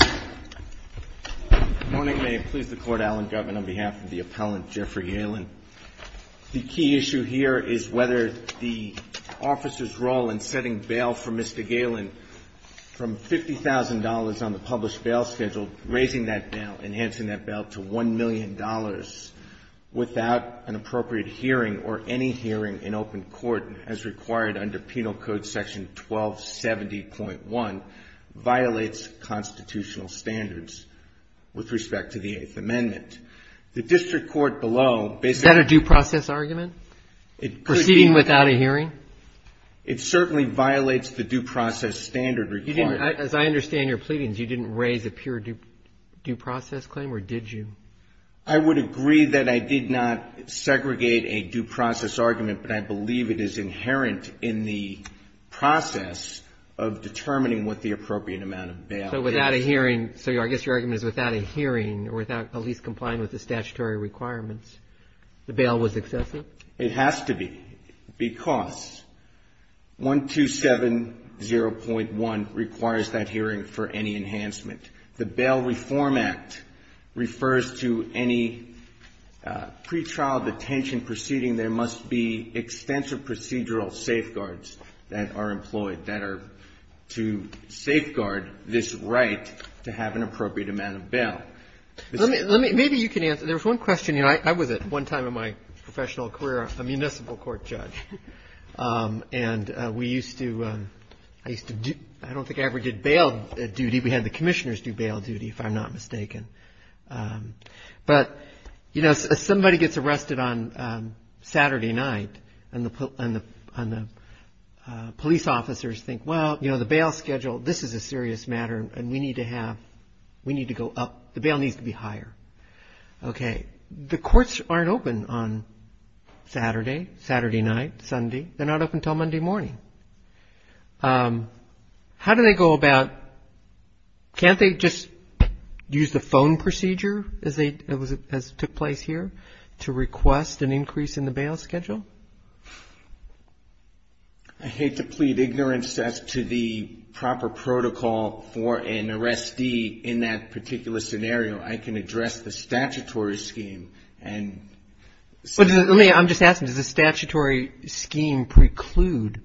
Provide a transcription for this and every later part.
Good morning. May it please the Court, Alan Gutman, on behalf of the appellant Jeffrey Galen. The key issue here is whether the officer's role in setting bail for Mr. Galen from $50,000 on the published bail schedule, raising that bail, enhancing that bail to $1 million without an appropriate hearing or any hearing in open court as required under Penal Code Section 1270.1 violates constitutional standards with respect to the Eighth Amendment. The district court below basically — Is that a due process argument? Proceeding without a hearing? It certainly violates the due process standard required. You didn't — as I understand your pleadings, you didn't raise a pure due process claim or did you? I would agree that I did not segregate a due process argument, but I believe it is inherent in the process of determining what the appropriate amount of bail is. So without a hearing — so I guess your argument is without a hearing or without at least complying with the statutory requirements, the bail was excessive? It has to be, because 1270.1 requires that hearing for any enhancement. The Bail Reform Act refers to any pretrial detention proceeding. There must be extensive procedural safeguards that are employed that are to safeguard this right to have an appropriate amount of bail. Let me — maybe you can answer. There was one question. You know, I was at one time in my professional career a municipal court judge, and we used to — I used to do — I don't think I ever did bail duty. We had the commissioners do bail duty, if I'm not mistaken. But, you know, if somebody gets arrested on Saturday night and the police officers think, well, you know, the bail schedule, this is a serious matter and we need to have — we need to go up. The bail needs to be higher. Okay. The courts aren't open on Saturday, Saturday night, Sunday. They're not open until Monday morning. How do they go about — can't they just use the phone procedure as they — as took place here to request an increase in the bail schedule? I hate to plead ignorance as to the proper protocol for an arrestee in that particular scenario. I can address the statutory scheme and — Let me — I'm just asking, does the statutory scheme preclude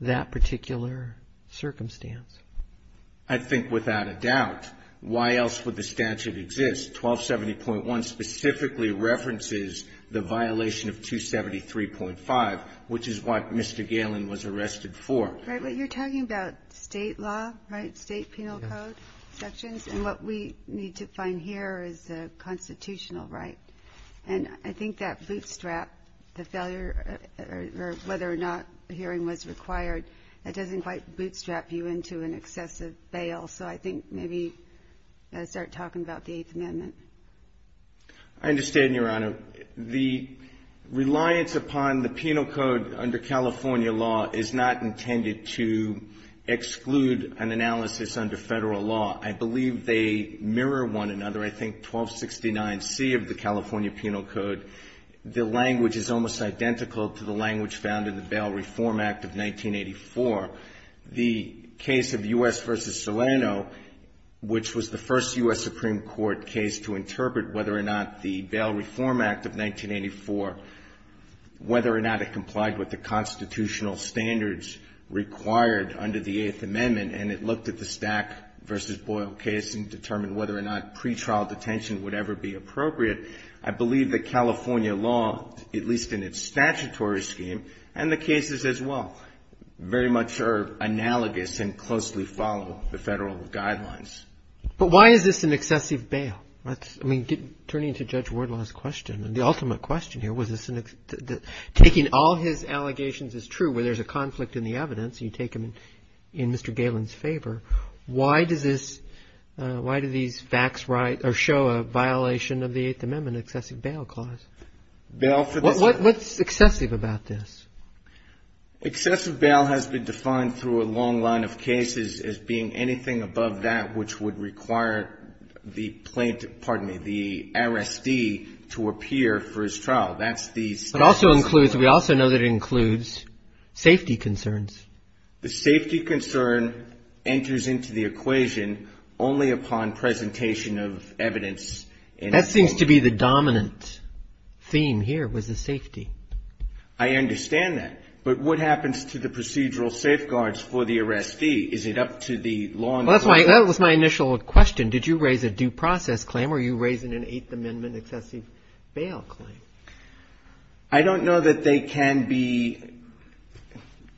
that particular circumstance? I think without a doubt. Why else would the statute exist? 1270.1 specifically references the violation of 273.5, which is what Mr. Galen was arrested for. Right. But you're talking about state law, right, state penal code sections, and what we need to find here is a constitutional right. And I think that bootstrap, the failure — or an excessive bail. So I think maybe I start talking about the Eighth Amendment. I understand, Your Honor. The reliance upon the penal code under California law is not intended to exclude an analysis under federal law. I believe they mirror one another. I think 1269C of the California Penal Code, the language is almost identical to the language found in the Bail Reform Act of 1984. The case of U.S. v. Solano, which was the first U.S. Supreme Court case to interpret whether or not the Bail Reform Act of 1984, whether or not it complied with the constitutional standards required under the Eighth Amendment, and it looked at the Stack v. Boyle case and determined whether or not pretrial detention would ever be appropriate. I believe that California law, at least in its statutory scheme, and the cases as well, very much are analogous and closely follow the federal guidelines. But why is this an excessive bail? I mean, turning to Judge Wardlaw's question, the ultimate question here was this an — taking all his allegations as true, where there's a conflict in the evidence and you take them in Mr. Galen's favor, why does this — why do these facts show a violation of the Eighth Amendment, an excessive bail clause? Bail for this — What's excessive about this? Excessive bail has been defined through a long line of cases as being anything above that which would require the plaintiff — pardon me, the R.S.D. to appear for his trial. That's the — But also includes — we also know that it includes safety concerns. The safety concern enters into the equation only upon presentation of evidence in a — That seems to be the dominant theme here, was the safety. I understand that. But what happens to the procedural safeguards for the R.S.D.? Is it up to the law enforcement — Well, that was my initial question. Did you raise a due process claim or are you raising an Eighth Amendment excessive bail claim? I don't know that they can be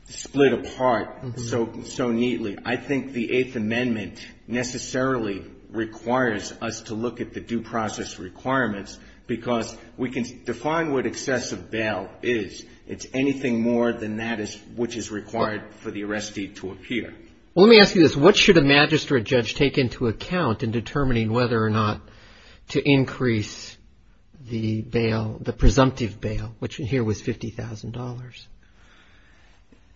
split apart so neatly. I think the Eighth Amendment necessarily requires us to look at the due process requirements because we can define what excessive bail is. It's anything more than that which is required for the R.S.D. to appear. Well, let me ask you this. What should a magistrate judge take into account in determining whether or not to increase the bail, the presumptive bail, which here was $50,000?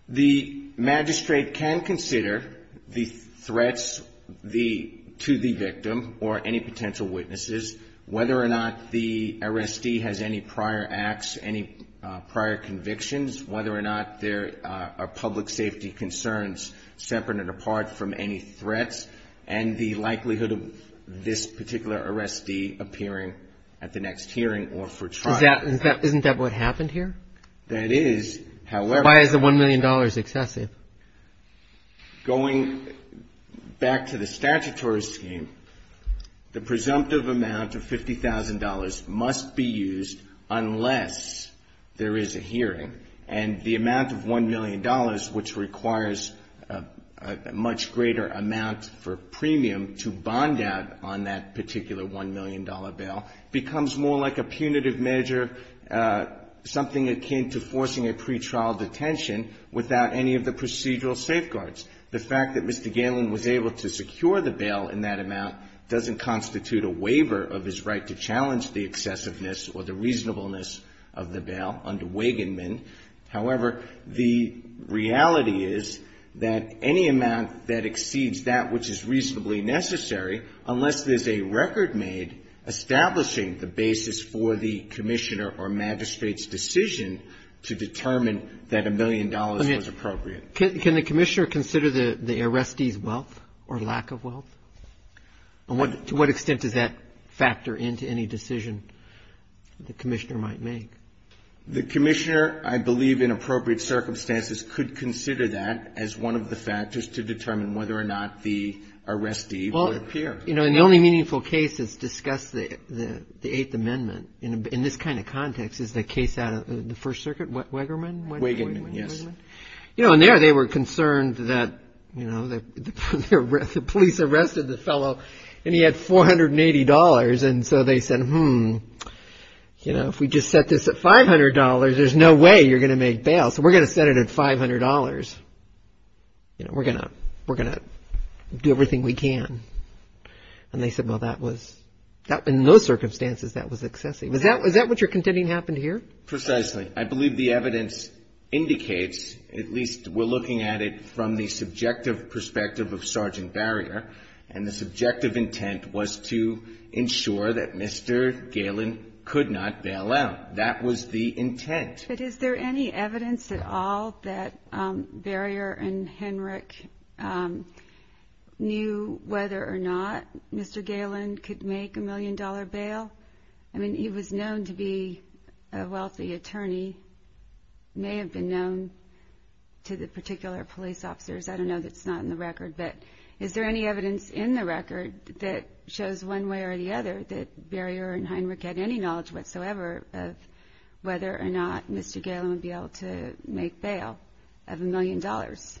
The magistrate can consider the threats to the victim or any potential witnesses, whether or not the R.S.D. has any prior acts, any prior convictions, whether or not there are public safety concerns separate and apart from any threats, and the likelihood of this particular R.S.D. appearing at the next hearing or for trial. Isn't that what happened here? That is. However — Why is the $1 million excessive? Going back to the statutory scheme, the presumptive amount of $50,000 must be used unless there is a hearing. And the amount of $1 million, which requires a much greater amount for premium to bond out on that particular $1 million bail, becomes more like a punitive measure, something akin to forcing a pretrial detention without any of the procedural safeguards. The fact that Mr. Galen was able to secure the bail in that amount doesn't constitute a waiver of his right to challenge the excessiveness or the reasonableness of the bail under Wagenman. However, the reality is that any amount that exceeds that, which is reasonably necessary, unless there's a record made establishing the basis for the commissioner or magistrate's decision to determine that $1 million was appropriate. Can the commissioner consider the R.S.D.'s wealth or lack of wealth? To what extent does that factor into any decision the commissioner might make? The commissioner, I believe, in appropriate circumstances, could consider that as one of the factors to determine whether or not the R.S.D. would appear. Well, you know, and the only meaningful case that's discussed, the Eighth Amendment, in this kind of context, is the case out of the First Circuit, Wegerman? Wagenman, yes. You know, and there they were concerned that, you know, the police arrested the fellow and he had $480, and so they said, hmm, you know, if we just set this at $500, there's no way you're going to make bail, so we're going to set it at $500. You know, we're going to do everything we can. And they said, well, that was, in those circumstances, that was excessive. Is that what you're contending happened here? Precisely. I believe the evidence indicates, at least we're looking at it from the subjective perspective of Sergeant Barrier, and the subjective intent was to ensure that Mr. Galen could not bail out. That was the intent. But is there any evidence at all that Barrier and Henrich knew whether or not Mr. Galen could make a million-dollar bail? I mean, he was known to be a wealthy attorney, may have been known to the particular police officers. I don't know that's not in the record. But is there any evidence in the record that shows one way or the other that Barrier and Henrich had any knowledge whatsoever of whether or not Mr. Galen would be able to make bail of a million dollars?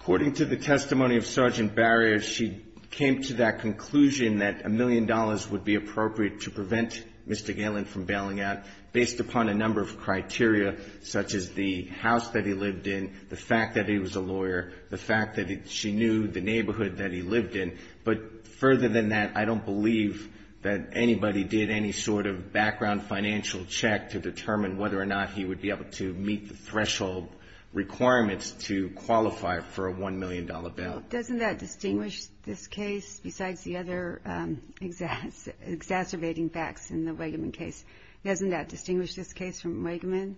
According to the testimony of Sergeant Barrier, she came to that conclusion that a million dollars would be appropriate to prevent Mr. Galen from bailing out based upon a number of criteria such as the house that he lived in, the fact that he was a lawyer, the fact that she knew the neighborhood that he lived in. But further than that, I don't believe that anybody did any sort of background financial check to determine whether or not he would be able to meet the threshold requirements to qualify for a one-million-dollar bail. Doesn't that distinguish this case besides the other exacerbating facts in the Weggeman case? Doesn't that distinguish this case from Weggeman?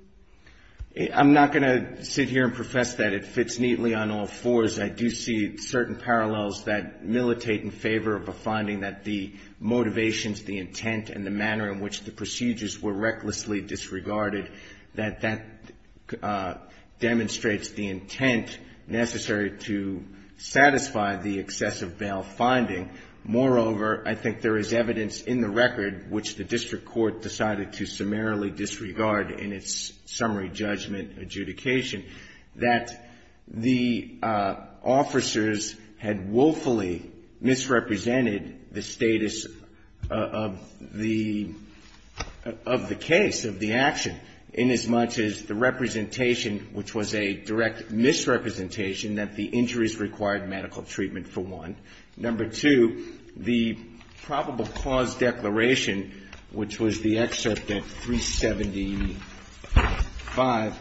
I'm not going to sit here and profess that it fits neatly on all fours. I do see certain parallels that militate in favor of a finding that the motivations, the intent, and the manner in which the procedures were recklessly disregarded, that that demonstrates the intent necessary to satisfy the excessive bail finding. Moreover, I think there is evidence in the record, which the district court decided to summarily disregard in its summary judgment adjudication, that the officers had woefully misrepresented the status of the case, of the action, inasmuch as the representation, which was a direct misrepresentation that the injuries required medical treatment for one. Number two, the probable cause declaration, which was the excerpt at 375,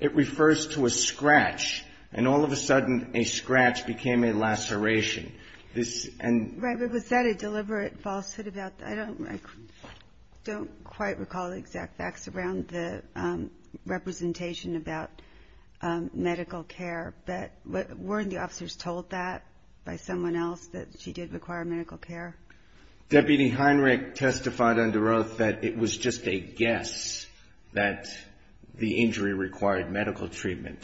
it refers to a scratch. And all of a sudden, a scratch became a laceration. This, and. Right, but was that a deliberate falsehood about, I don't, I don't quite recall the exact facts around the representation about medical care. That, weren't the officers told that by someone else, that she did require medical care? Deputy Heinrich testified under oath that it was just a guess that the injury required medical treatment.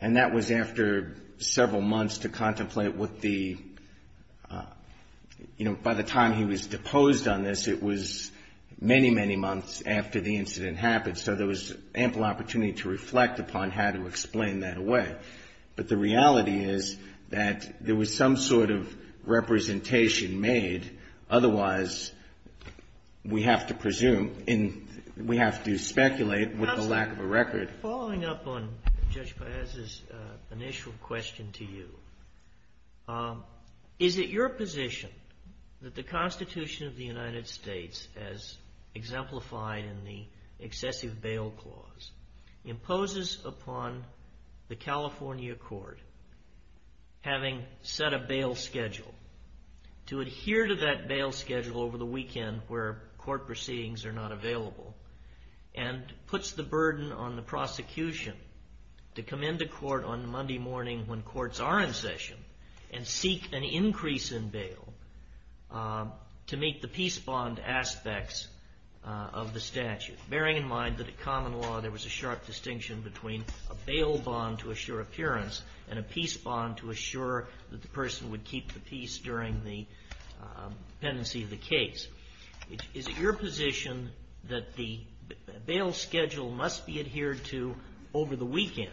And that was after several months to contemplate what the, you know, by the time he was deposed on this, it was many, many months after the incident happened. So there was ample opportunity to reflect upon how to explain that away. But the reality is that there was some sort of representation made. Otherwise, we have to presume, we have to speculate with the lack of a record. Following up on Judge Paez's initial question to you, is it your position that the Constitution of the United States, as exemplified in the excessive bail clause, imposes upon the California court, having set a bail schedule, to adhere to that bail schedule over the weekend where court proceedings are not available, and puts the burden on the prosecution to come into court on Monday morning when courts are in session and seek an increase in bail to meet the peace bond aspects of the statute? Bearing in mind that at common law, there was a sharp distinction between a bail bond to assure appearance and a peace bond to assure that the person would keep the peace during the pendency of the case. Is it your position that the bail schedule must be adhered to over the weekend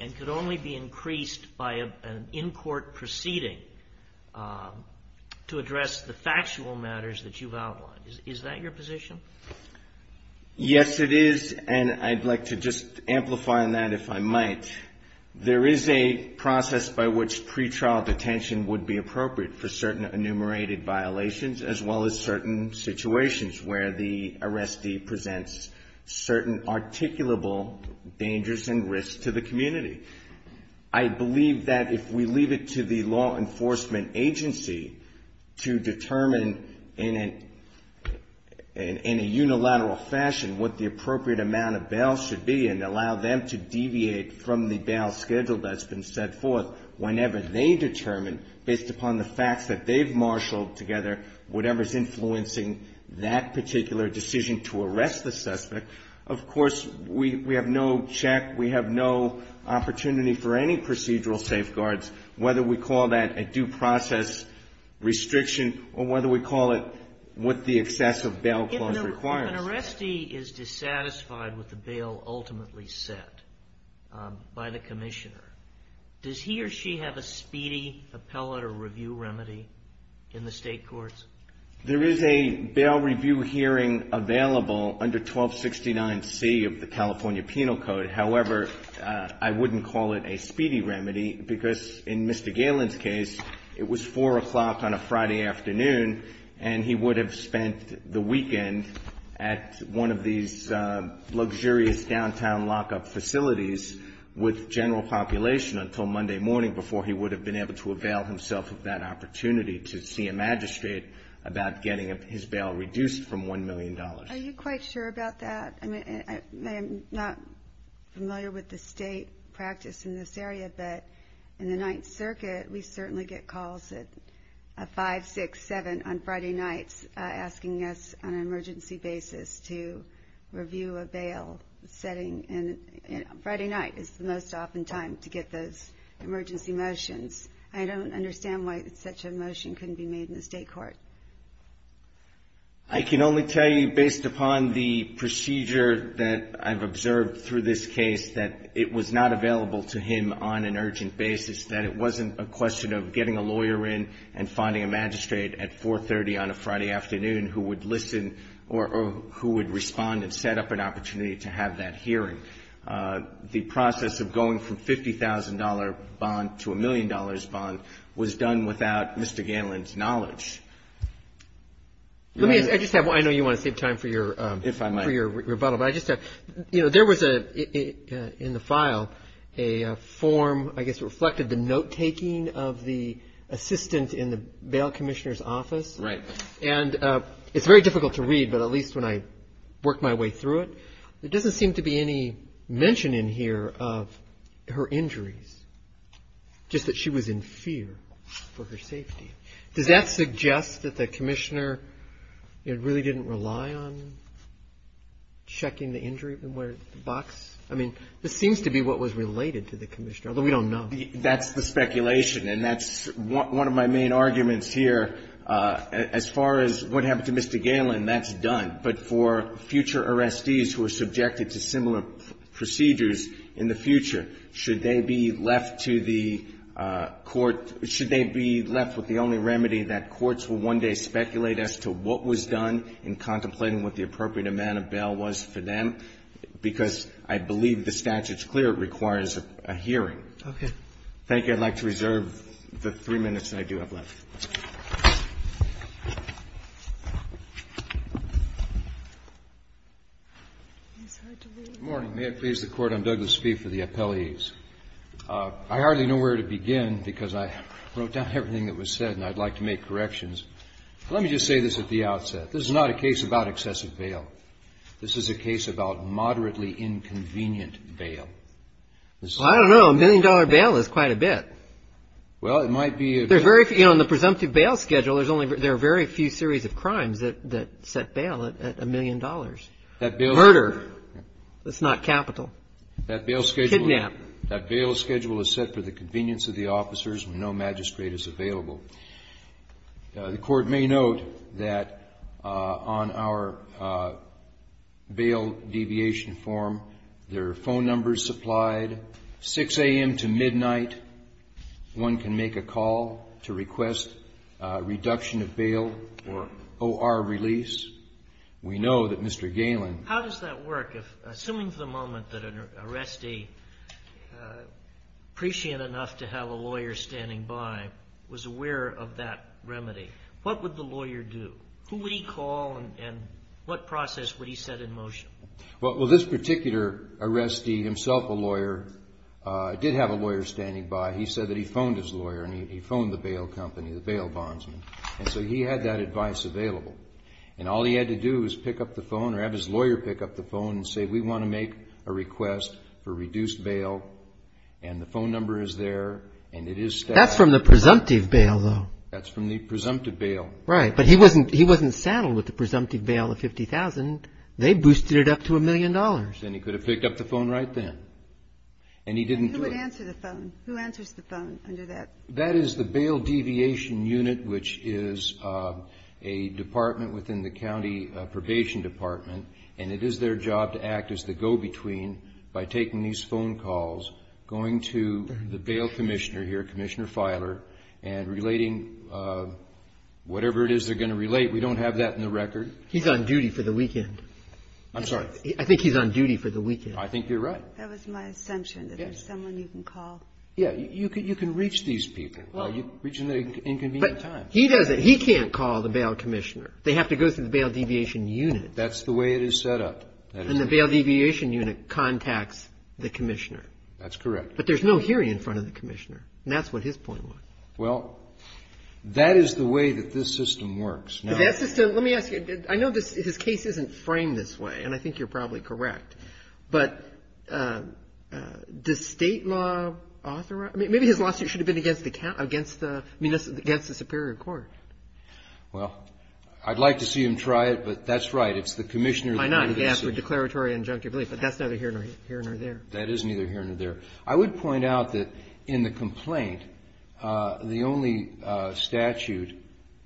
and could only be increased by an in-court proceeding to address the factual matters that you've outlined? Is that your position? Yes, it is, and I'd like to just amplify on that, if I might. There is a process by which pretrial detention would be appropriate for certain enumerated violations, as well as certain situations where the arrestee presents certain articulable dangers and risks to the community. I believe that if we leave it to the law enforcement agency to determine in a unilateral fashion what the appropriate amount of bail should be and allow them to deviate from the bail schedule that's been set forth whenever they determine, based upon the facts that they've marshaled together, whatever's influencing that particular decision to arrest the suspect, of course we have no check, we have no opportunity for any procedural safeguards, whether we call that a due process restriction or whether we call it what the excessive bail clause requires. If an arrestee is dissatisfied with the bail ultimately set by the commissioner, does he or she have a speedy appellate or review remedy in the state courts? There is a bail review hearing available under 1269C of the California Penal Code. However, I wouldn't call it a speedy remedy because in Mr. Galen's case, it was 4 o'clock on a Friday afternoon and he would have spent the weekend at one of these luxurious downtown lockup facilities with general population until Monday morning before he would have been able to avail himself of that opportunity to see a magistrate about getting his bail reduced from $1 million. Are you quite sure about that? I mean, I'm not familiar with the state practice in this area, but in the Ninth Circuit, we certainly get calls at 5, 6, 7 on Friday nights asking us on an emergency basis to review a bail setting and Friday night is the most often time to get those emergency motions. I don't understand why such a motion couldn't be made in the state court. I can only tell you based upon the procedure that I've observed through this case that it was not available to him on an urgent basis, that it wasn't a question of getting a lawyer in and finding a magistrate at 4.30 on a Friday afternoon who would listen or who would respond and set up an opportunity to have that hearing. The process of going from $50,000 bond to a million dollars bond was done without Mr. Galen's knowledge. Let me just say, I know you want to save time for your rebuttal, but I just have, you know, there was in the file a form, I guess it reflected the note taking of the assistant in the bail commissioner's office. And it's very difficult to read, but at least when I worked my way through it, there doesn't seem to be any mention in here of her injuries, just that she was in fear for her safety. Does that suggest that the commissioner really didn't rely on checking the injury in the box? I mean, this seems to be what was related to the commissioner, although we don't know. That's the speculation, and that's one of my main arguments here. As far as what happened to Mr. Galen, that's done. But for future arrestees who are subjected to similar procedures in the future, should they be left to the court — should they be left with the only remedy that courts will one day speculate as to what was done in contemplating what the appropriate amount of bail was for them, because I believe the statute's clear it requires a hearing. Thank you. I'd like to reserve the three minutes I do have left. I hardly know where to begin because I wrote down everything that was said, and I'd like to make corrections. Let me just say this at the outset. This is not a case about excessive bail. This is a case about moderately inconvenient bail. I don't know. A million-dollar bail is quite a bit. Well, it might be a bit. There's very few — you know, in the presumptive bail schedule, there's only — there are very few series of crimes that set bail at a million dollars. Murder, that's not capital. Kidnap. That bail schedule is set for the convenience of the officers. No magistrate is available. The Court may note that on our bail deviation form, there are phone numbers supplied. 6 a.m. to midnight, one can make a call to request a reduction of bail or O.R. release. We know that Mr. Galen — How does that work? Assuming for the moment that an arrestee, prescient enough to have a lawyer standing by, was aware of that remedy, what would the lawyer do? Who would he call, and what process would he set in motion? Well, this particular arrestee, himself a lawyer, did have a lawyer standing by. He said that he phoned his lawyer, and he phoned the bail company, the bail bondsman. And so he had that advice available. And all he had to do was pick up the phone or have his lawyer pick up the phone and say, we want to make a request for reduced bail. And the phone number is there, and it is — That's from the presumptive bail, though. That's from the presumptive bail. They boosted it up to a million dollars. And he could have picked up the phone right then. And he didn't do it. And who would answer the phone? Who answers the phone under that? That is the bail deviation unit, which is a department within the county probation department. And it is their job to act as the go-between by taking these phone calls, going to the bail commissioner here, Commissioner Feiler, and relating whatever it is they're going to relate. We don't have that in the record. He's on duty for the weekend. I'm sorry? I think he's on duty for the weekend. I think you're right. That was my assumption, that there's someone you can call. Yeah, you can reach these people while you're reaching the inconvenient times. But he doesn't — he can't call the bail commissioner. They have to go through the bail deviation unit. That's the way it is set up. And the bail deviation unit contacts the commissioner. That's correct. But there's no hearing in front of the commissioner. And that's what his point was. Well, that is the way that this system works. Let me ask you, I know his case isn't framed this way, and I think you're probably correct. But does state law authorize — I mean, maybe his lawsuit should have been against the Superior Court. Well, I'd like to see him try it, but that's right. It's the commissioner — Why not? He can ask for declaratory injunctive relief. But that's neither here nor there. That is neither here nor there. I would point out that in the complaint, the only statute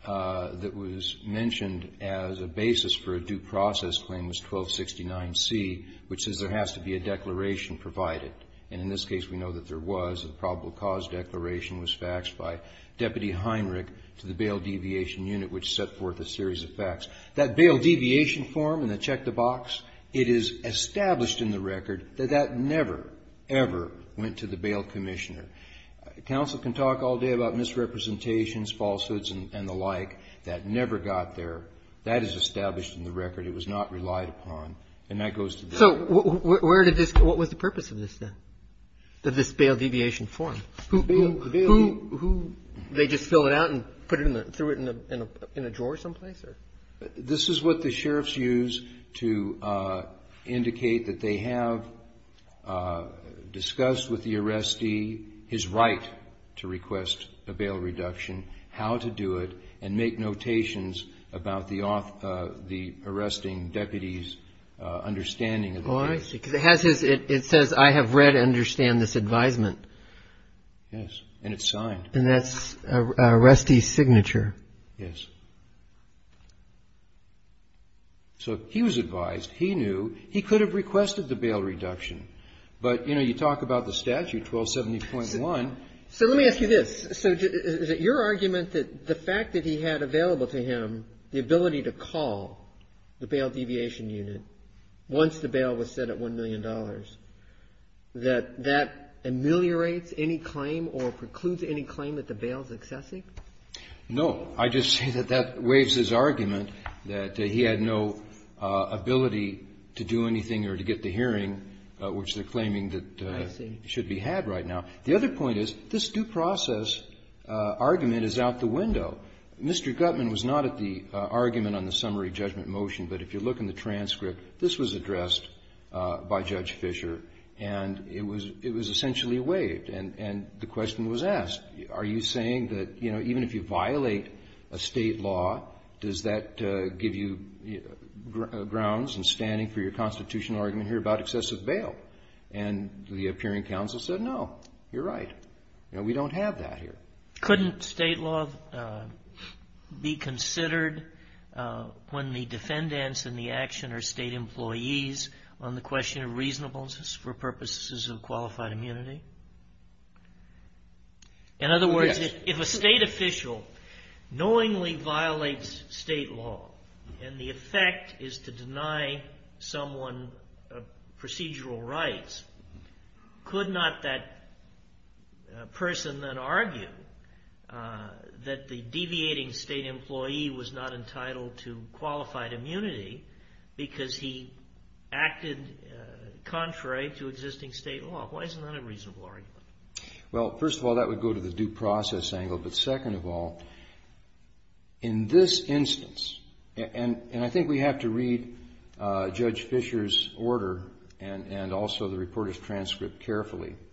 that was mentioned as a basis for a due process claim was 1269C, which says there has to be a declaration provided. And in this case, we know that there was a probable cause declaration was faxed by Deputy Heinrich to the bail deviation unit, which set forth a series of facts. That bail deviation form in the check-the-box, it is established in the record that that never, ever went to the bail commissioner. Counsel can talk all day about misrepresentations, falsehoods, and the like. That never got there. That is established in the record. It was not relied upon. And that goes to the — So where did this — what was the purpose of this, then, of this bail deviation form? Who — The bail — Who — they just fill it out and put it in the — threw it in a drawer someplace, or — This is what the sheriffs use to indicate that they have discussed with the arrestee his right to request a bail reduction, how to do it, and make notations about the arresting deputy's understanding of the case. Oh, I see. Because it has his — it says, I have read and understand this advisement. Yes. And it's signed. And that's an arrestee's signature. Yes. So he was advised. He knew. He could have requested the bail reduction. But, you know, you talk about the statute, 1270.1 — So let me ask you this. So is it your argument that the fact that he had available to him the ability to call the bail deviation unit once the bail was set at $1 million, that that ameliorates any claim or precludes any claim that the bail is excessive? No. I just say that that waives his argument that he had no ability to do anything or to get the hearing, which they're claiming that should be had right now. The other point is, this due process argument is out the window. Mr. Gutman was not at the argument on the summary judgment motion. But if you look in the transcript, this was addressed by Judge Fisher. And it was — it was essentially waived. And the question was asked. Are you saying that, you know, even if you violate a state law, does that give you grounds and standing for your constitutional argument here about excessive bail? And the appearing counsel said, no, you're right. You know, we don't have that here. Couldn't state law be considered when the defendants in the action are state employees on the question of reasonableness for purposes of qualified immunity? In other words, if a state official knowingly violates state law and the effect is to deny someone procedural rights, could not that person then argue that the deviating state employee was not entitled to qualified immunity because he acted contrary to existing state law? Why isn't that a reasonable argument? Well, first of all, that would go to the due process angle. But second of all, in this instance — and I think we have to read Judge Fisher's order and also the reporter's transcript carefully —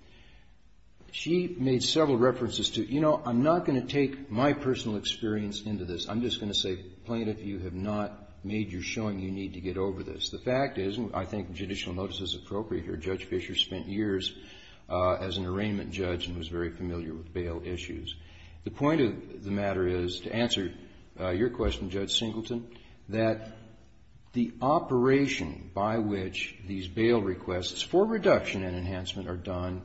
she made several references to, you know, I'm not going to take my personal experience into this. I'm just going to say, plaintiff, you have not made your showing you need to get over this. The fact is, and I think judicial notice is appropriate here, Judge Fisher spent years as an arraignment judge and was very familiar with bail issues. The point of the matter is, to answer your question, Judge Singleton, that the operation by which these bail requests for reduction and enhancement are done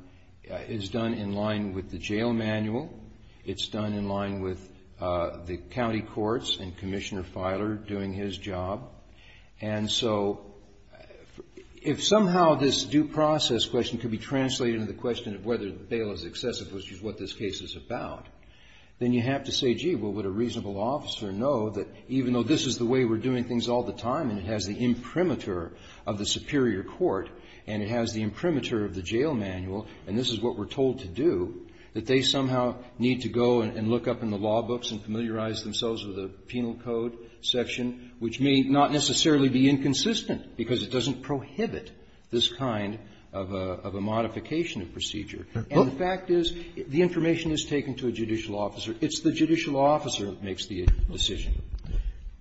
is done in line with the jail manual. It's done in line with the county courts and Commissioner Filer doing his job. And so if somehow this due process question could be translated into the question of whether the bail is excessive, which is what this case is about, then you have to say, gee, well, would a reasonable officer know that even though this is the way we're doing things all the time and it has the imprimatur of the superior court and it has the imprimatur of the jail manual, and this is what we're told to do, that they somehow need to go and look up in the law books and familiarize themselves with the penal code section, which may not be the case. It may not necessarily be inconsistent because it doesn't prohibit this kind of a modification of procedure. And the fact is, the information is taken to a judicial officer. It's the judicial officer that makes the decision.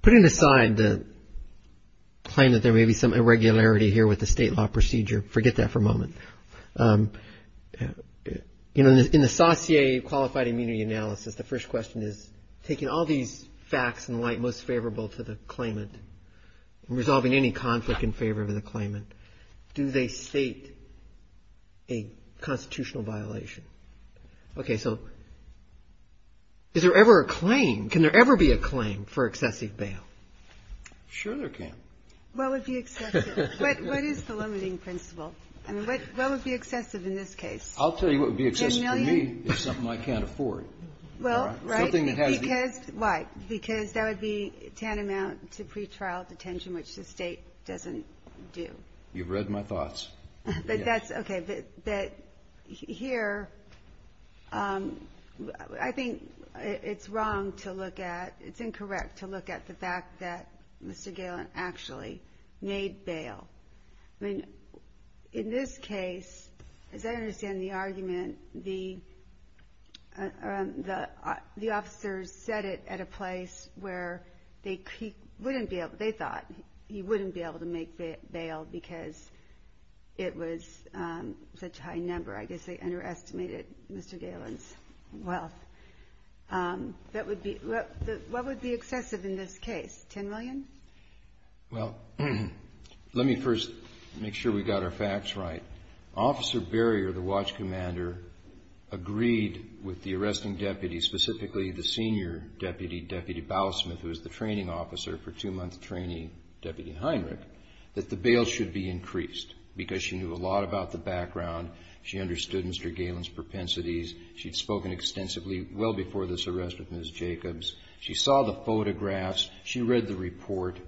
Putting aside the claim that there may be some irregularity here with the state law procedure, forget that for a moment. You know, in the SAUCIE qualified immunity analysis, the first question is, taking all these facts in light most favorable to the claimant and resolving any conflict in favor of the claimant, do they state a constitutional violation? Okay. So is there ever a claim? Can there ever be a claim for excessive bail? Sure there can. What would be excessive? What is the limiting principle? I mean, what would be excessive in this case? I'll tell you what would be excessive for me is something I can't afford. Well, right. Something that has to be. Why? Because that would be tantamount to pretrial detention, which the State doesn't do. You've read my thoughts. Okay. Here, I think it's wrong to look at, it's incorrect to look at the fact that Mr. Galen actually made bail. I mean, in this case, as I understand the argument, the officers said it at a place where they thought he wouldn't be able to make bail because it was such a high number. I guess they underestimated Mr. Galen's wealth. What would be excessive in this case? Ten million? Well, let me first make sure we got our facts right. Officer Barrier, the watch commander, agreed with the arresting deputy, specifically the senior deputy, Deputy Bowlesmith, who was the training officer for two-month training, Deputy Heinrich, that the bail should be increased because she knew a lot about the background. She understood Mr. Galen's propensities. She'd spoken extensively well before this arrest with Ms. Jacobs. She saw the photographs. She read the report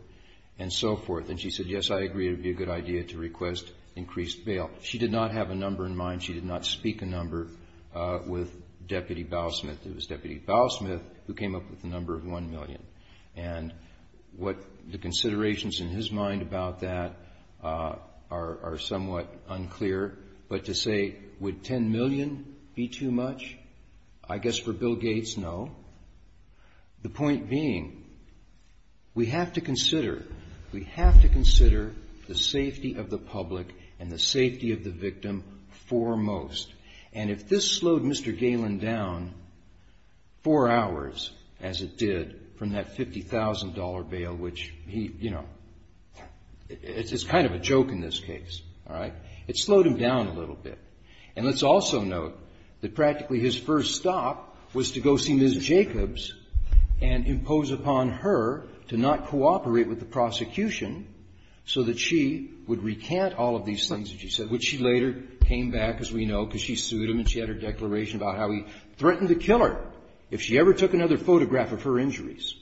and so forth. And she said, yes, I agree it would be a good idea to request increased bail. She did not have a number in mind. She did not speak a number with Deputy Bowlesmith. It was Deputy Bowlesmith who came up with the number of one million. And what the considerations in his mind about that are somewhat unclear. But to say, would ten million be too much? I guess for Bill Gates, no. The point being, we have to consider, we have to consider the safety of the public and the safety of the victim foremost. And if this slowed Mr. Galen down four hours, as it did from that $50,000 bail, which he, you know, it's kind of a joke in this case. All right? It slowed him down a little bit. And let's also note that practically his first stop was to go see Ms. Jacobs and impose upon her to not cooperate with the prosecution so that she would recant all of these things that she said, which she later came back, as we know, because she sued him and she had her declaration about how he threatened to kill her if she ever took another photograph of her injuries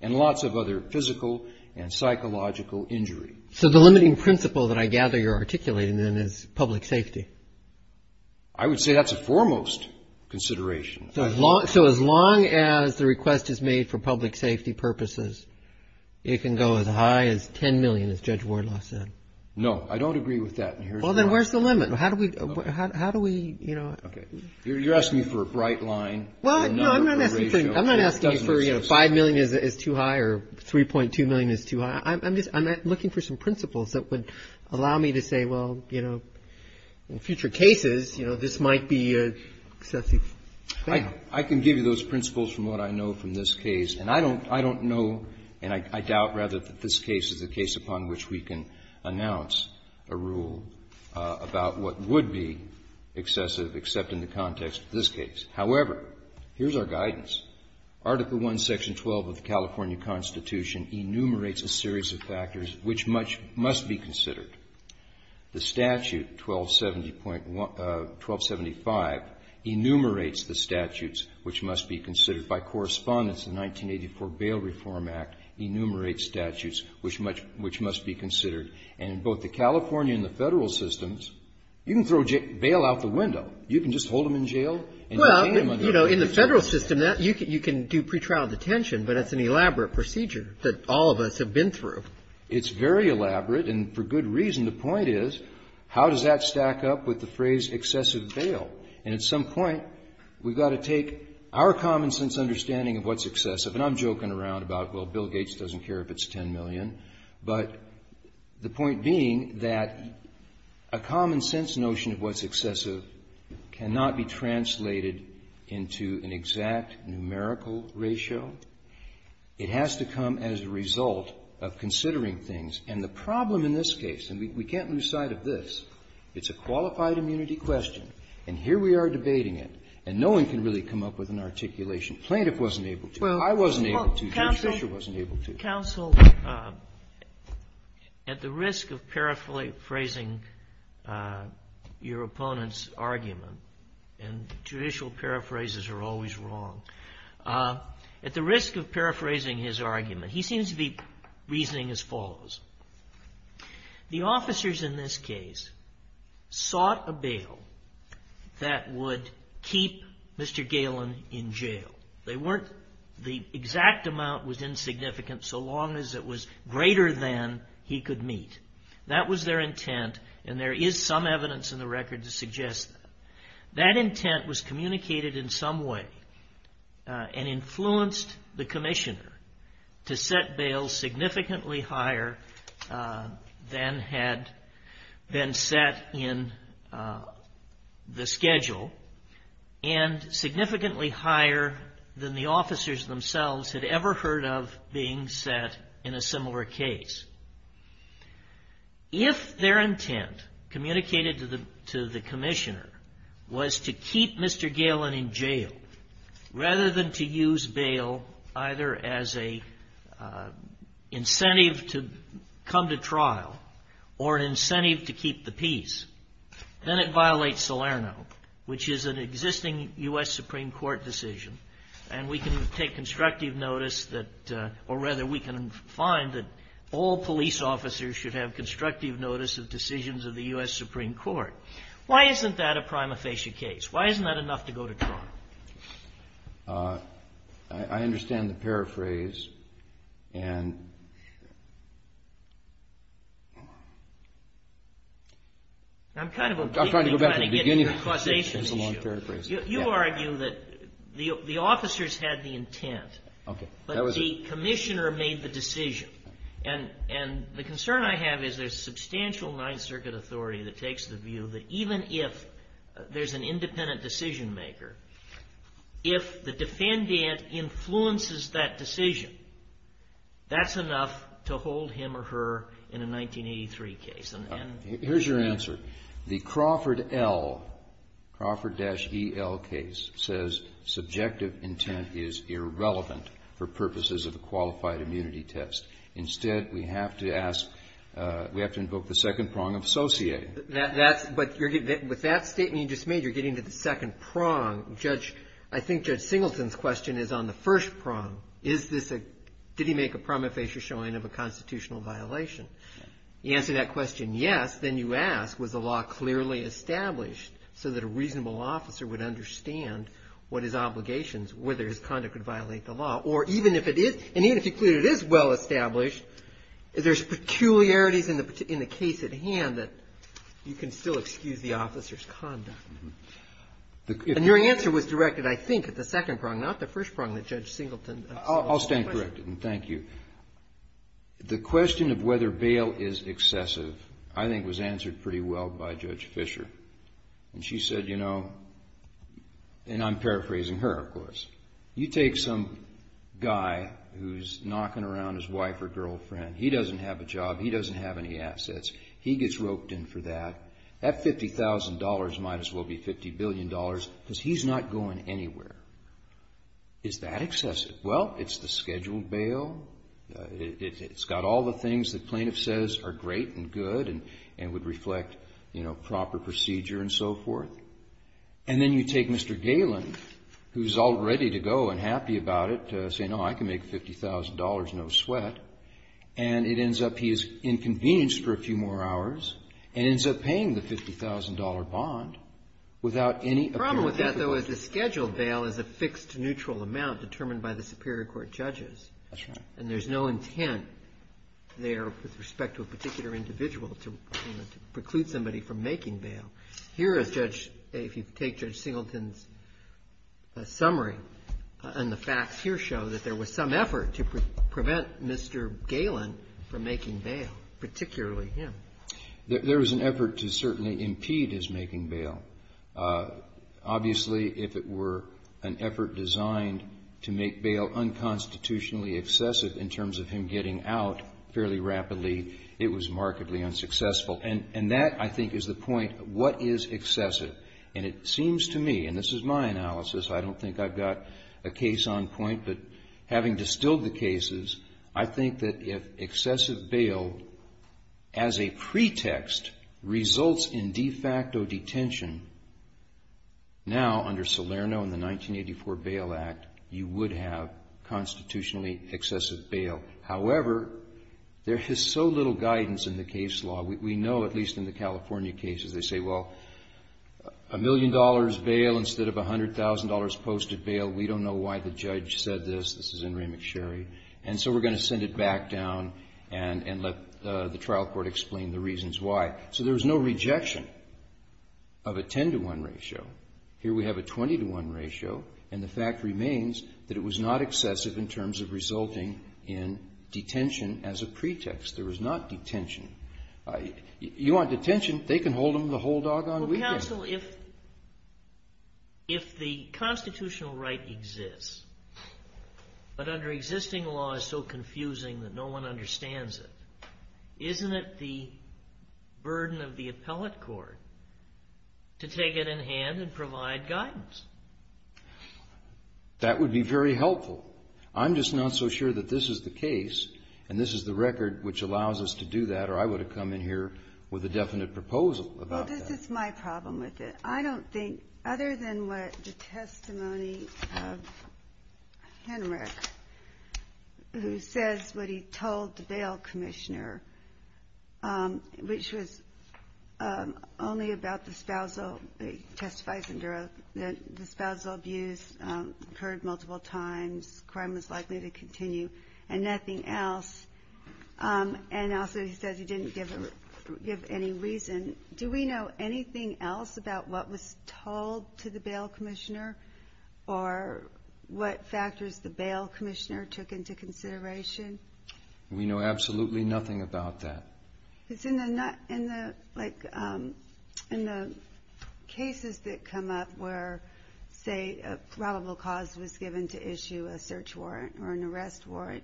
and lots of other physical and psychological injury. So the limiting principle that I gather you're articulating then is public safety. I would say that's a foremost consideration. So as long as the request is made for public safety purposes, it can go as high as ten million, as Judge Wardlaw said. No, I don't agree with that. Well, then where's the limit? How do we, you know? You're asking me for a bright line. Well, no, I'm not asking you for, you know, five million is too high or 3.2 million is too high. I'm just looking for some principles that would allow me to say, well, you know, in future cases, you know, this might be excessive. I can give you those principles from what I know from this case. And I don't know and I doubt rather that this case is a case upon which we can announce a rule about what would be excessive, except in the context of this case. However, here's our guidance. Article I, Section 12 of the California Constitution enumerates a series of factors which much must be considered. The statute 1270.1 1275 enumerates the statutes which must be considered. By correspondence, the 1984 Bail Reform Act enumerates statutes which much be considered. And in both the California and the Federal systems, you can throw bail out the window. You can just hold them in jail. And in the Federal system, you can do pretrial detention, but that's an elaborate procedure that all of us have been through. It's very elaborate, and for good reason. The point is, how does that stack up with the phrase excessive bail? And at some point, we've got to take our common sense understanding of what's excessive. And I'm joking around about, well, Bill Gates doesn't care if it's 10 million. But the point being that a common sense notion of what's excessive cannot be translated into an exact numerical ratio. It has to come as a result of considering things. And the problem in this case, and we can't lose sight of this, it's a qualified immunity question, and here we are debating it, and no one can really come up with an articulation. Plaintiff wasn't able to. I wasn't able to. Judge Fischer wasn't able to. Counsel, at the risk of paraphrasing your opponent's argument, and judicial paraphrases are always wrong, at the risk of paraphrasing his argument, he seems to be reasoning as follows. The officers in this case sought a bail that would keep Mr. Galen in jail. The exact amount was insignificant so long as it was greater than he could meet. That was their intent, and there is some evidence in the record to suggest that. That intent was communicated in some way and influenced the commissioner to set than the officers themselves had ever heard of being set in a similar case. If their intent communicated to the commissioner was to keep Mr. Galen in jail rather than to use bail either as an incentive to come to trial or an incentive to keep the peace, then it violates Salerno, which is an existing U.S. Supreme Court decision, and we can take constructive notice that, or rather, we can find that all police officers should have constructive notice of decisions of the U.S. Supreme Court. Why isn't that a prima facie case? I understand the paraphrase, and... I'm trying to go back to the beginning of your causation issue. It's a long paraphrase. You argue that the officers had the intent, but the commissioner made the decision, and the concern I have is there's substantial Ninth Circuit authority that takes the view that even if there's an independent decision maker, if the defendant influences that decision, that's enough to hold him or her in a 1983 case. Here's your answer. The Crawford L, Crawford-E-L case says subjective intent is irrelevant for purposes of a qualified immunity test. Instead, we have to ask, we have to invoke the second prong of associating. That's, but with that statement you just made, you're getting to the second prong. Judge, I think Judge Singleton's question is on the first prong. Is this a, did he make a prima facie showing of a constitutional violation? You answer that question yes, then you ask, was the law clearly established so that a reasonable officer would understand what his obligations, whether his conduct would violate the law, or even if it is, and even if you conclude it is well established, there's peculiarities in the case at hand that you can still excuse the officer's conduct. And your answer was directed, I think, at the second prong, not the first prong that Judge Singleton asked. I'll stand corrected, and thank you. The question of whether bail is excessive I think was answered pretty well by Judge Fisher. And she said, you know, and I'm paraphrasing her, of course, you take some guy who's knocking around his wife or girlfriend. He doesn't have a job. He doesn't have any assets. He gets roped in for that. That $50,000 might as well be $50 billion because he's not going anywhere. Is that excessive? Well, it's the scheduled bail. It's got all the things the plaintiff says are great and good and would reflect, you know, proper procedure and so forth. And then you take Mr. Galen, who's all ready to go and happy about it, saying, oh, I can make $50,000, no sweat. And it ends up he is inconvenienced for a few more hours and ends up paying the $50,000 bond without any apparent difficulty. The problem with that, though, is the scheduled bail is a fixed neutral amount determined by the superior court judges. That's right. And there's no intent there with respect to a particular individual to preclude somebody from making bail. Here is Judge — if you take Judge Singleton's summary, and the facts here show that there was some effort to prevent Mr. Galen from making bail, particularly him. There was an effort to certainly impede his making bail. Obviously, if it were an effort designed to make bail unconstitutionally excessive in terms of him getting out fairly rapidly, it was markedly unsuccessful. And that, I think, is the point. What is excessive? And it seems to me, and this is my analysis. I don't think I've got a case on point. But having distilled the cases, I think that if excessive bail, as a pretext, results in de facto detention, now under Salerno and the 1984 Bail Act, you would have constitutionally excessive bail. However, there is so little guidance in the case law. We know, at least in the California cases, they say, well, a million dollars bail instead of $100,000 posted bail. We don't know why the judge said this. This is in Ray McSherry. And so we're going to send it back down and let the trial court explain the reasons why. So there's no rejection of a 10-to-1 ratio. Here we have a 20-to-1 ratio. And the fact remains that it was not excessive in terms of resulting in detention as a pretext. There was not detention. You want detention, they can hold them the whole doggone weekend. Well, counsel, if the constitutional right exists, but under existing law is so confusing that no one understands it, isn't it the burden of the appellate court to take it in hand and provide guidance? That would be very helpful. I'm just not so sure that this is the case and this is the record which allows us to do that, or I would have come in here with a definite proposal about that. Well, this is my problem with it. I don't think, other than what the testimony of Henrich, who says what he told the spousal abuse occurred multiple times, crime was likely to continue, and nothing else. And also he says he didn't give any reason. Do we know anything else about what was told to the bail commissioner or what factors the bail commissioner took into consideration? We know absolutely nothing about that. Because in the cases that come up where, say, a probable cause was given to issue a search warrant or an arrest warrant,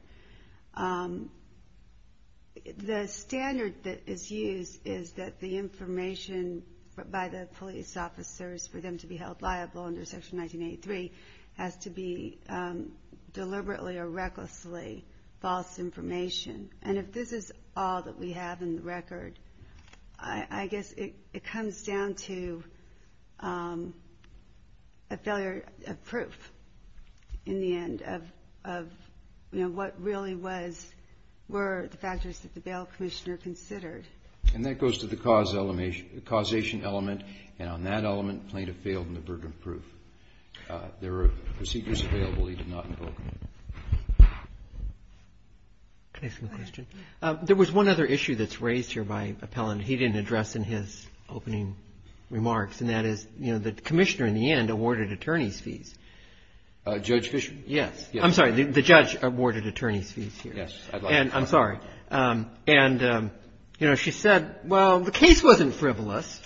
the standard that is used is that the information by the police officers for them to be held liable under Section 1983 has to be deliberately or recklessly false information. And if this is all that we have in the record, I guess it comes down to a failure of proof in the end of what really were the factors that the bail commissioner considered. And that goes to the causation element. And on that element, plaintiff failed in the burden of proof. There are procedures available he did not invoke. Can I ask you a question? There was one other issue that's raised here by Appellant he didn't address in his opening remarks, and that is, you know, the commissioner in the end awarded attorney's fees. Judge Fisher? Yes. I'm sorry. The judge awarded attorney's fees here. Yes. And I'm sorry. And, you know, she said, well, the case wasn't frivolous.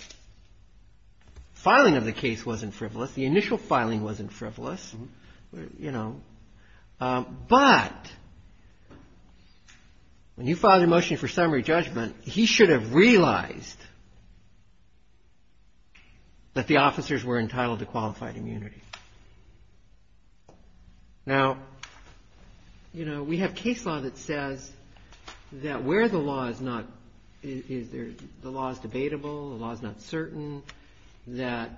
Filing of the case wasn't frivolous. The initial filing wasn't frivolous. You know. But when he filed a motion for summary judgment, he should have realized that the officers were entitled to qualified immunity. Now, you know, we have case law that says that where the law is not the law is debatable, the law is not certain, that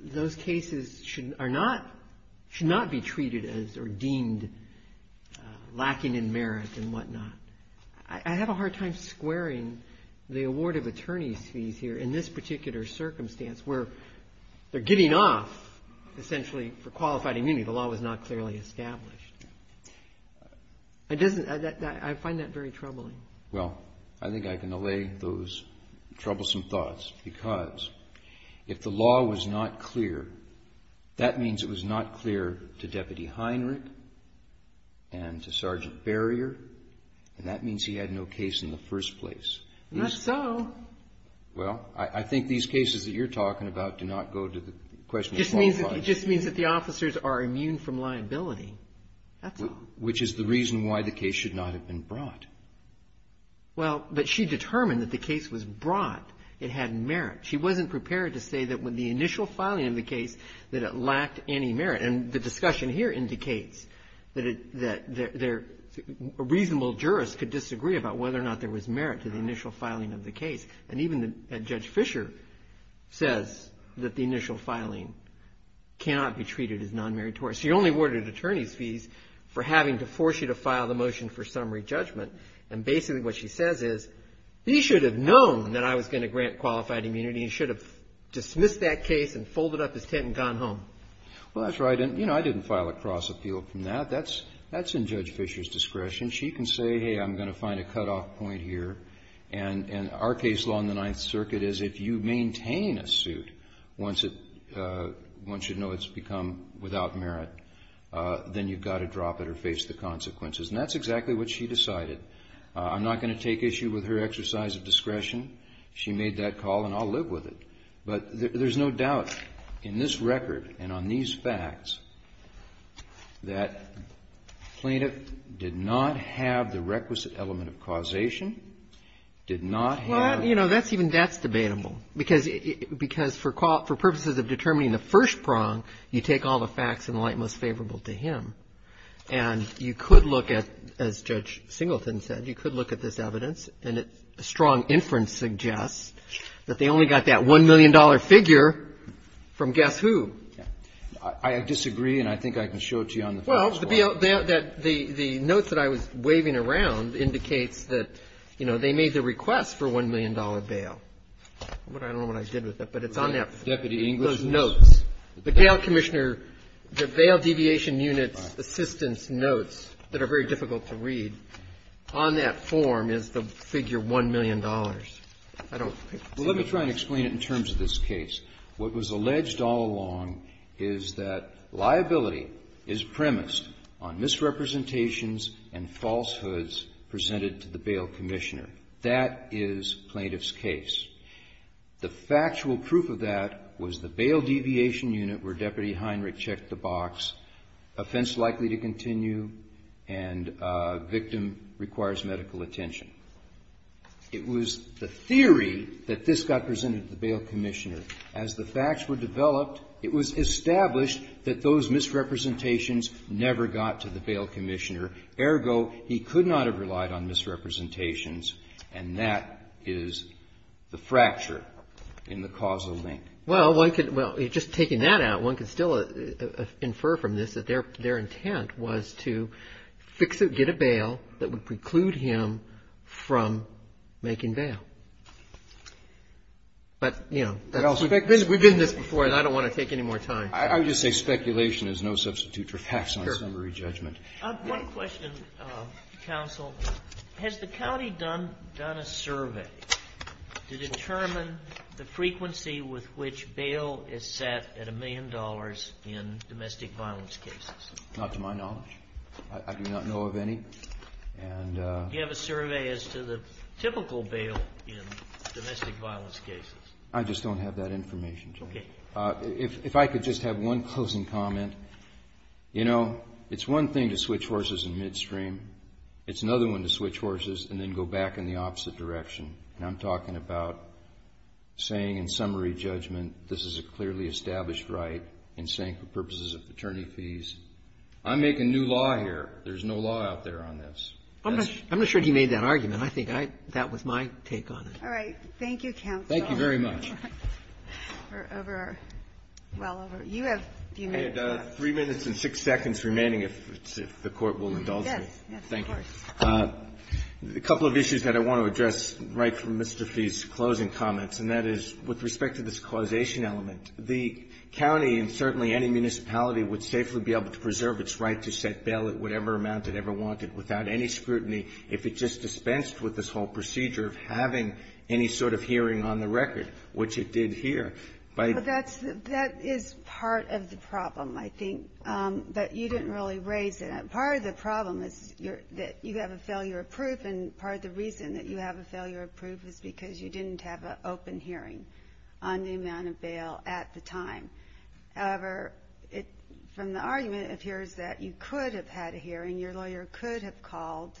those cases should not be treated as or deemed lacking in merit and whatnot. I have a hard time squaring the award of attorney's fees here in this particular circumstance where they're giving off, essentially, for qualified immunity. The law was not clearly established. I find that very troubling. Well, I think I can allay those troublesome thoughts because if the law was not clear, that means it was not clear to Deputy Heinrich and to Sergeant Barrier, and that means he had no case in the first place. Not so. Well, I think these cases that you're talking about do not go to the question of qualified immunity. It just means that the officers are immune from liability. That's all. Which is the reason why the case should not have been brought. Well, but she determined that the case was brought. It had merit. She wasn't prepared to say that with the initial filing of the case that it lacked any merit. And the discussion here indicates that a reasonable jurist could disagree about whether or not there was merit to the initial filing of the case. And even Judge Fisher says that the initial filing cannot be treated as nonmeritorious. She only awarded attorneys fees for having to force you to file the motion for summary judgment. And basically what she says is, he should have known that I was going to grant qualified immunity and should have dismissed that case and folded up his tent and gone home. Well, that's right. And, you know, I didn't file a cross-appeal from that. That's in Judge Fisher's discretion. She can say, hey, I'm going to find a cutoff point here. And our case law in the Ninth Circuit is if you maintain a suit once you know it's become without merit, then you've got to drop it or face the consequences. And that's exactly what she decided. I'm not going to take issue with her exercise of discretion. She made that call, and I'll live with it. But there's no doubt in this record and on these facts that plaintiff did not have the requisite element of causation. Did not have. Well, you know, that's even that's debatable, because for purposes of determining the first prong, you take all the facts in the light most favorable to him. And you could look at, as Judge Singleton said, you could look at this evidence, and a strong inference suggests that they only got that $1 million figure from guess who. I disagree, and I think I can show it to you on the facts. Well, the notes that I was waving around indicates that, you know, they made the request for a $1 million bail. I don't know what I did with it, but it's on that. Deputy Englishman. Those notes. The bail commissioner, the bail deviation units assistance notes that are very difficult to read, on that form is the figure $1 million. I don't think it's the case. Well, let me try and explain it in terms of this case. What was alleged all along is that liability is premised on misrepresentations and falsehoods presented to the bail commissioner. That is plaintiff's case. The factual proof of that was the bail deviation unit where Deputy Heinrich checked the box, offense likely to continue, and victim requires medical attention. It was the theory that this got presented to the bail commissioner. As the facts were developed, it was established that those misrepresentations never got to the bail commissioner. Ergo, he could not have relied on misrepresentations, and that is the fracture in the causal link. Well, just taking that out, one could still infer from this that their intent was to fix or get a bail that would preclude him from making bail. But, you know, we've been in this before, and I don't want to take any more time. I would just say speculation is no substitute for facts on summary judgment. One question, counsel. Has the county done a survey to determine the frequency with which bail is set at a million dollars in domestic violence cases? Not to my knowledge. I do not know of any. Do you have a survey as to the typical bail in domestic violence cases? I just don't have that information, Judge. Okay. If I could just have one closing comment. You know, it's one thing to switch horses in midstream. It's another one to switch horses and then go back in the opposite direction. And I'm talking about saying in summary judgment this is a clearly established right and saying I'm making new law here. There's no law out there on this. I'm not sure he made that argument. I think that was my take on it. All right. Thank you, counsel. Thank you very much. We're over. Well, over. You have a few minutes left. I had three minutes and six seconds remaining, if the Court will indulge me. Yes. Yes, of course. Thank you. A couple of issues that I want to address right from Mr. Fee's closing comments, and that is with respect to this causation element. The county and certainly any municipality would safely be able to preserve its right to set bail at whatever amount it ever wanted without any scrutiny if it just dispensed with this whole procedure of having any sort of hearing on the record, which it did here. That is part of the problem, I think, that you didn't really raise. Part of the problem is that you have a failure of proof, and part of the reason that you have a failure of proof is because you didn't have an open hearing on the amount of bail at the time. However, from the argument, it appears that you could have had a hearing. Your lawyer could have called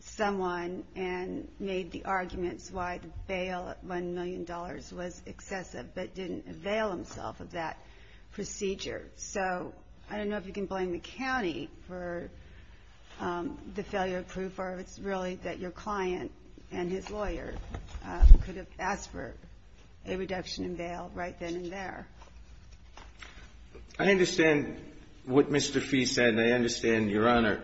someone and made the arguments why the bail at $1 million was excessive but didn't avail himself of that procedure. So I don't know if you can blame the county for the failure of proof, or if it's really that your client and his lawyer could have asked for a reduction in bail right then and there. I understand what Mr. Fee said, and I understand, Your Honor.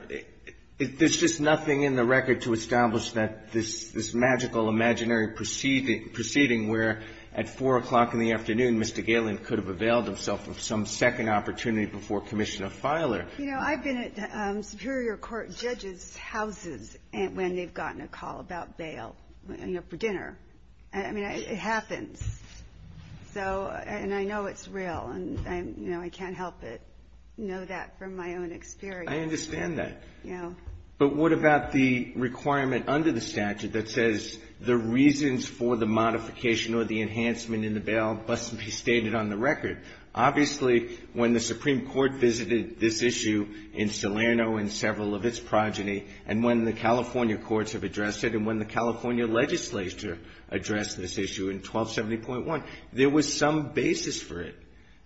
There's just nothing in the record to establish that this magical, imaginary proceeding where at 4 o'clock in the afternoon, Mr. Galen could have availed himself of some second opportunity before Commissioner Filer. You know, I've been at superior court judges' houses when they've gotten a call about bail, you know, for dinner. I mean, it happens. So, and I know it's real, and, you know, I can't help but know that from my own experience. I understand that. Yeah. But what about the requirement under the statute that says the reasons for the modification or the enhancement in the bail must be stated on the record? Obviously, when the Supreme Court visited this issue in Salerno and several of its progeny, and when the California courts have addressed it, and when the California legislature addressed this issue in 1270.1, there was some basis for it.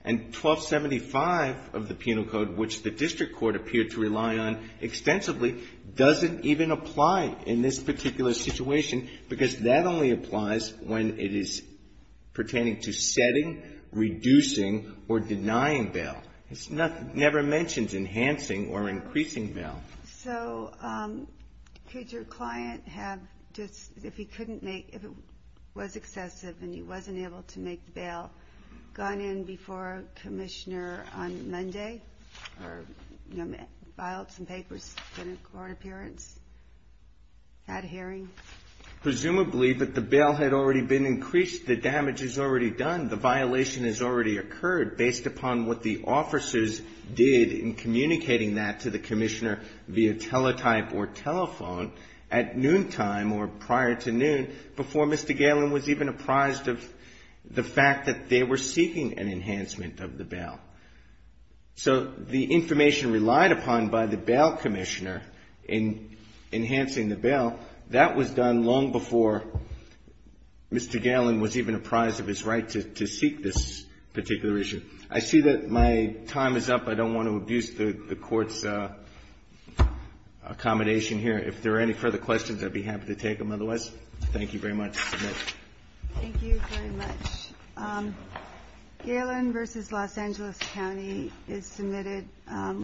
And 1275 of the penal code, which the district court appeared to rely on extensively, doesn't even apply in this particular situation because that only applies when it is pertaining to setting, reducing, or denying bail. It never mentions enhancing or increasing bail. So, could your client have just, if he couldn't make, if it was excessive and he wasn't able to make bail, gone in before a commissioner on Monday, or, you know, filed some papers in a court appearance, had a hearing? Presumably, but the bail had already been increased. The damage is already done. The violation has already occurred based upon what the officers did in communicating that to the commissioner via teletype or telephone at noontime or prior to noon before Mr. Galen was even apprised of the fact that they were seeking an enhancement of the bail. So, the information relied upon by the bail commissioner in enhancing the bail, that was done long before Mr. Galen was even apprised of his right to seek this particular issue. I see that my time is up. I don't want to abuse the Court's accommodation here. If there are any further questions, I'd be happy to take them otherwise. Thank you very much. I submit. Thank you very much. Galen v. Los Angeles County is submitted.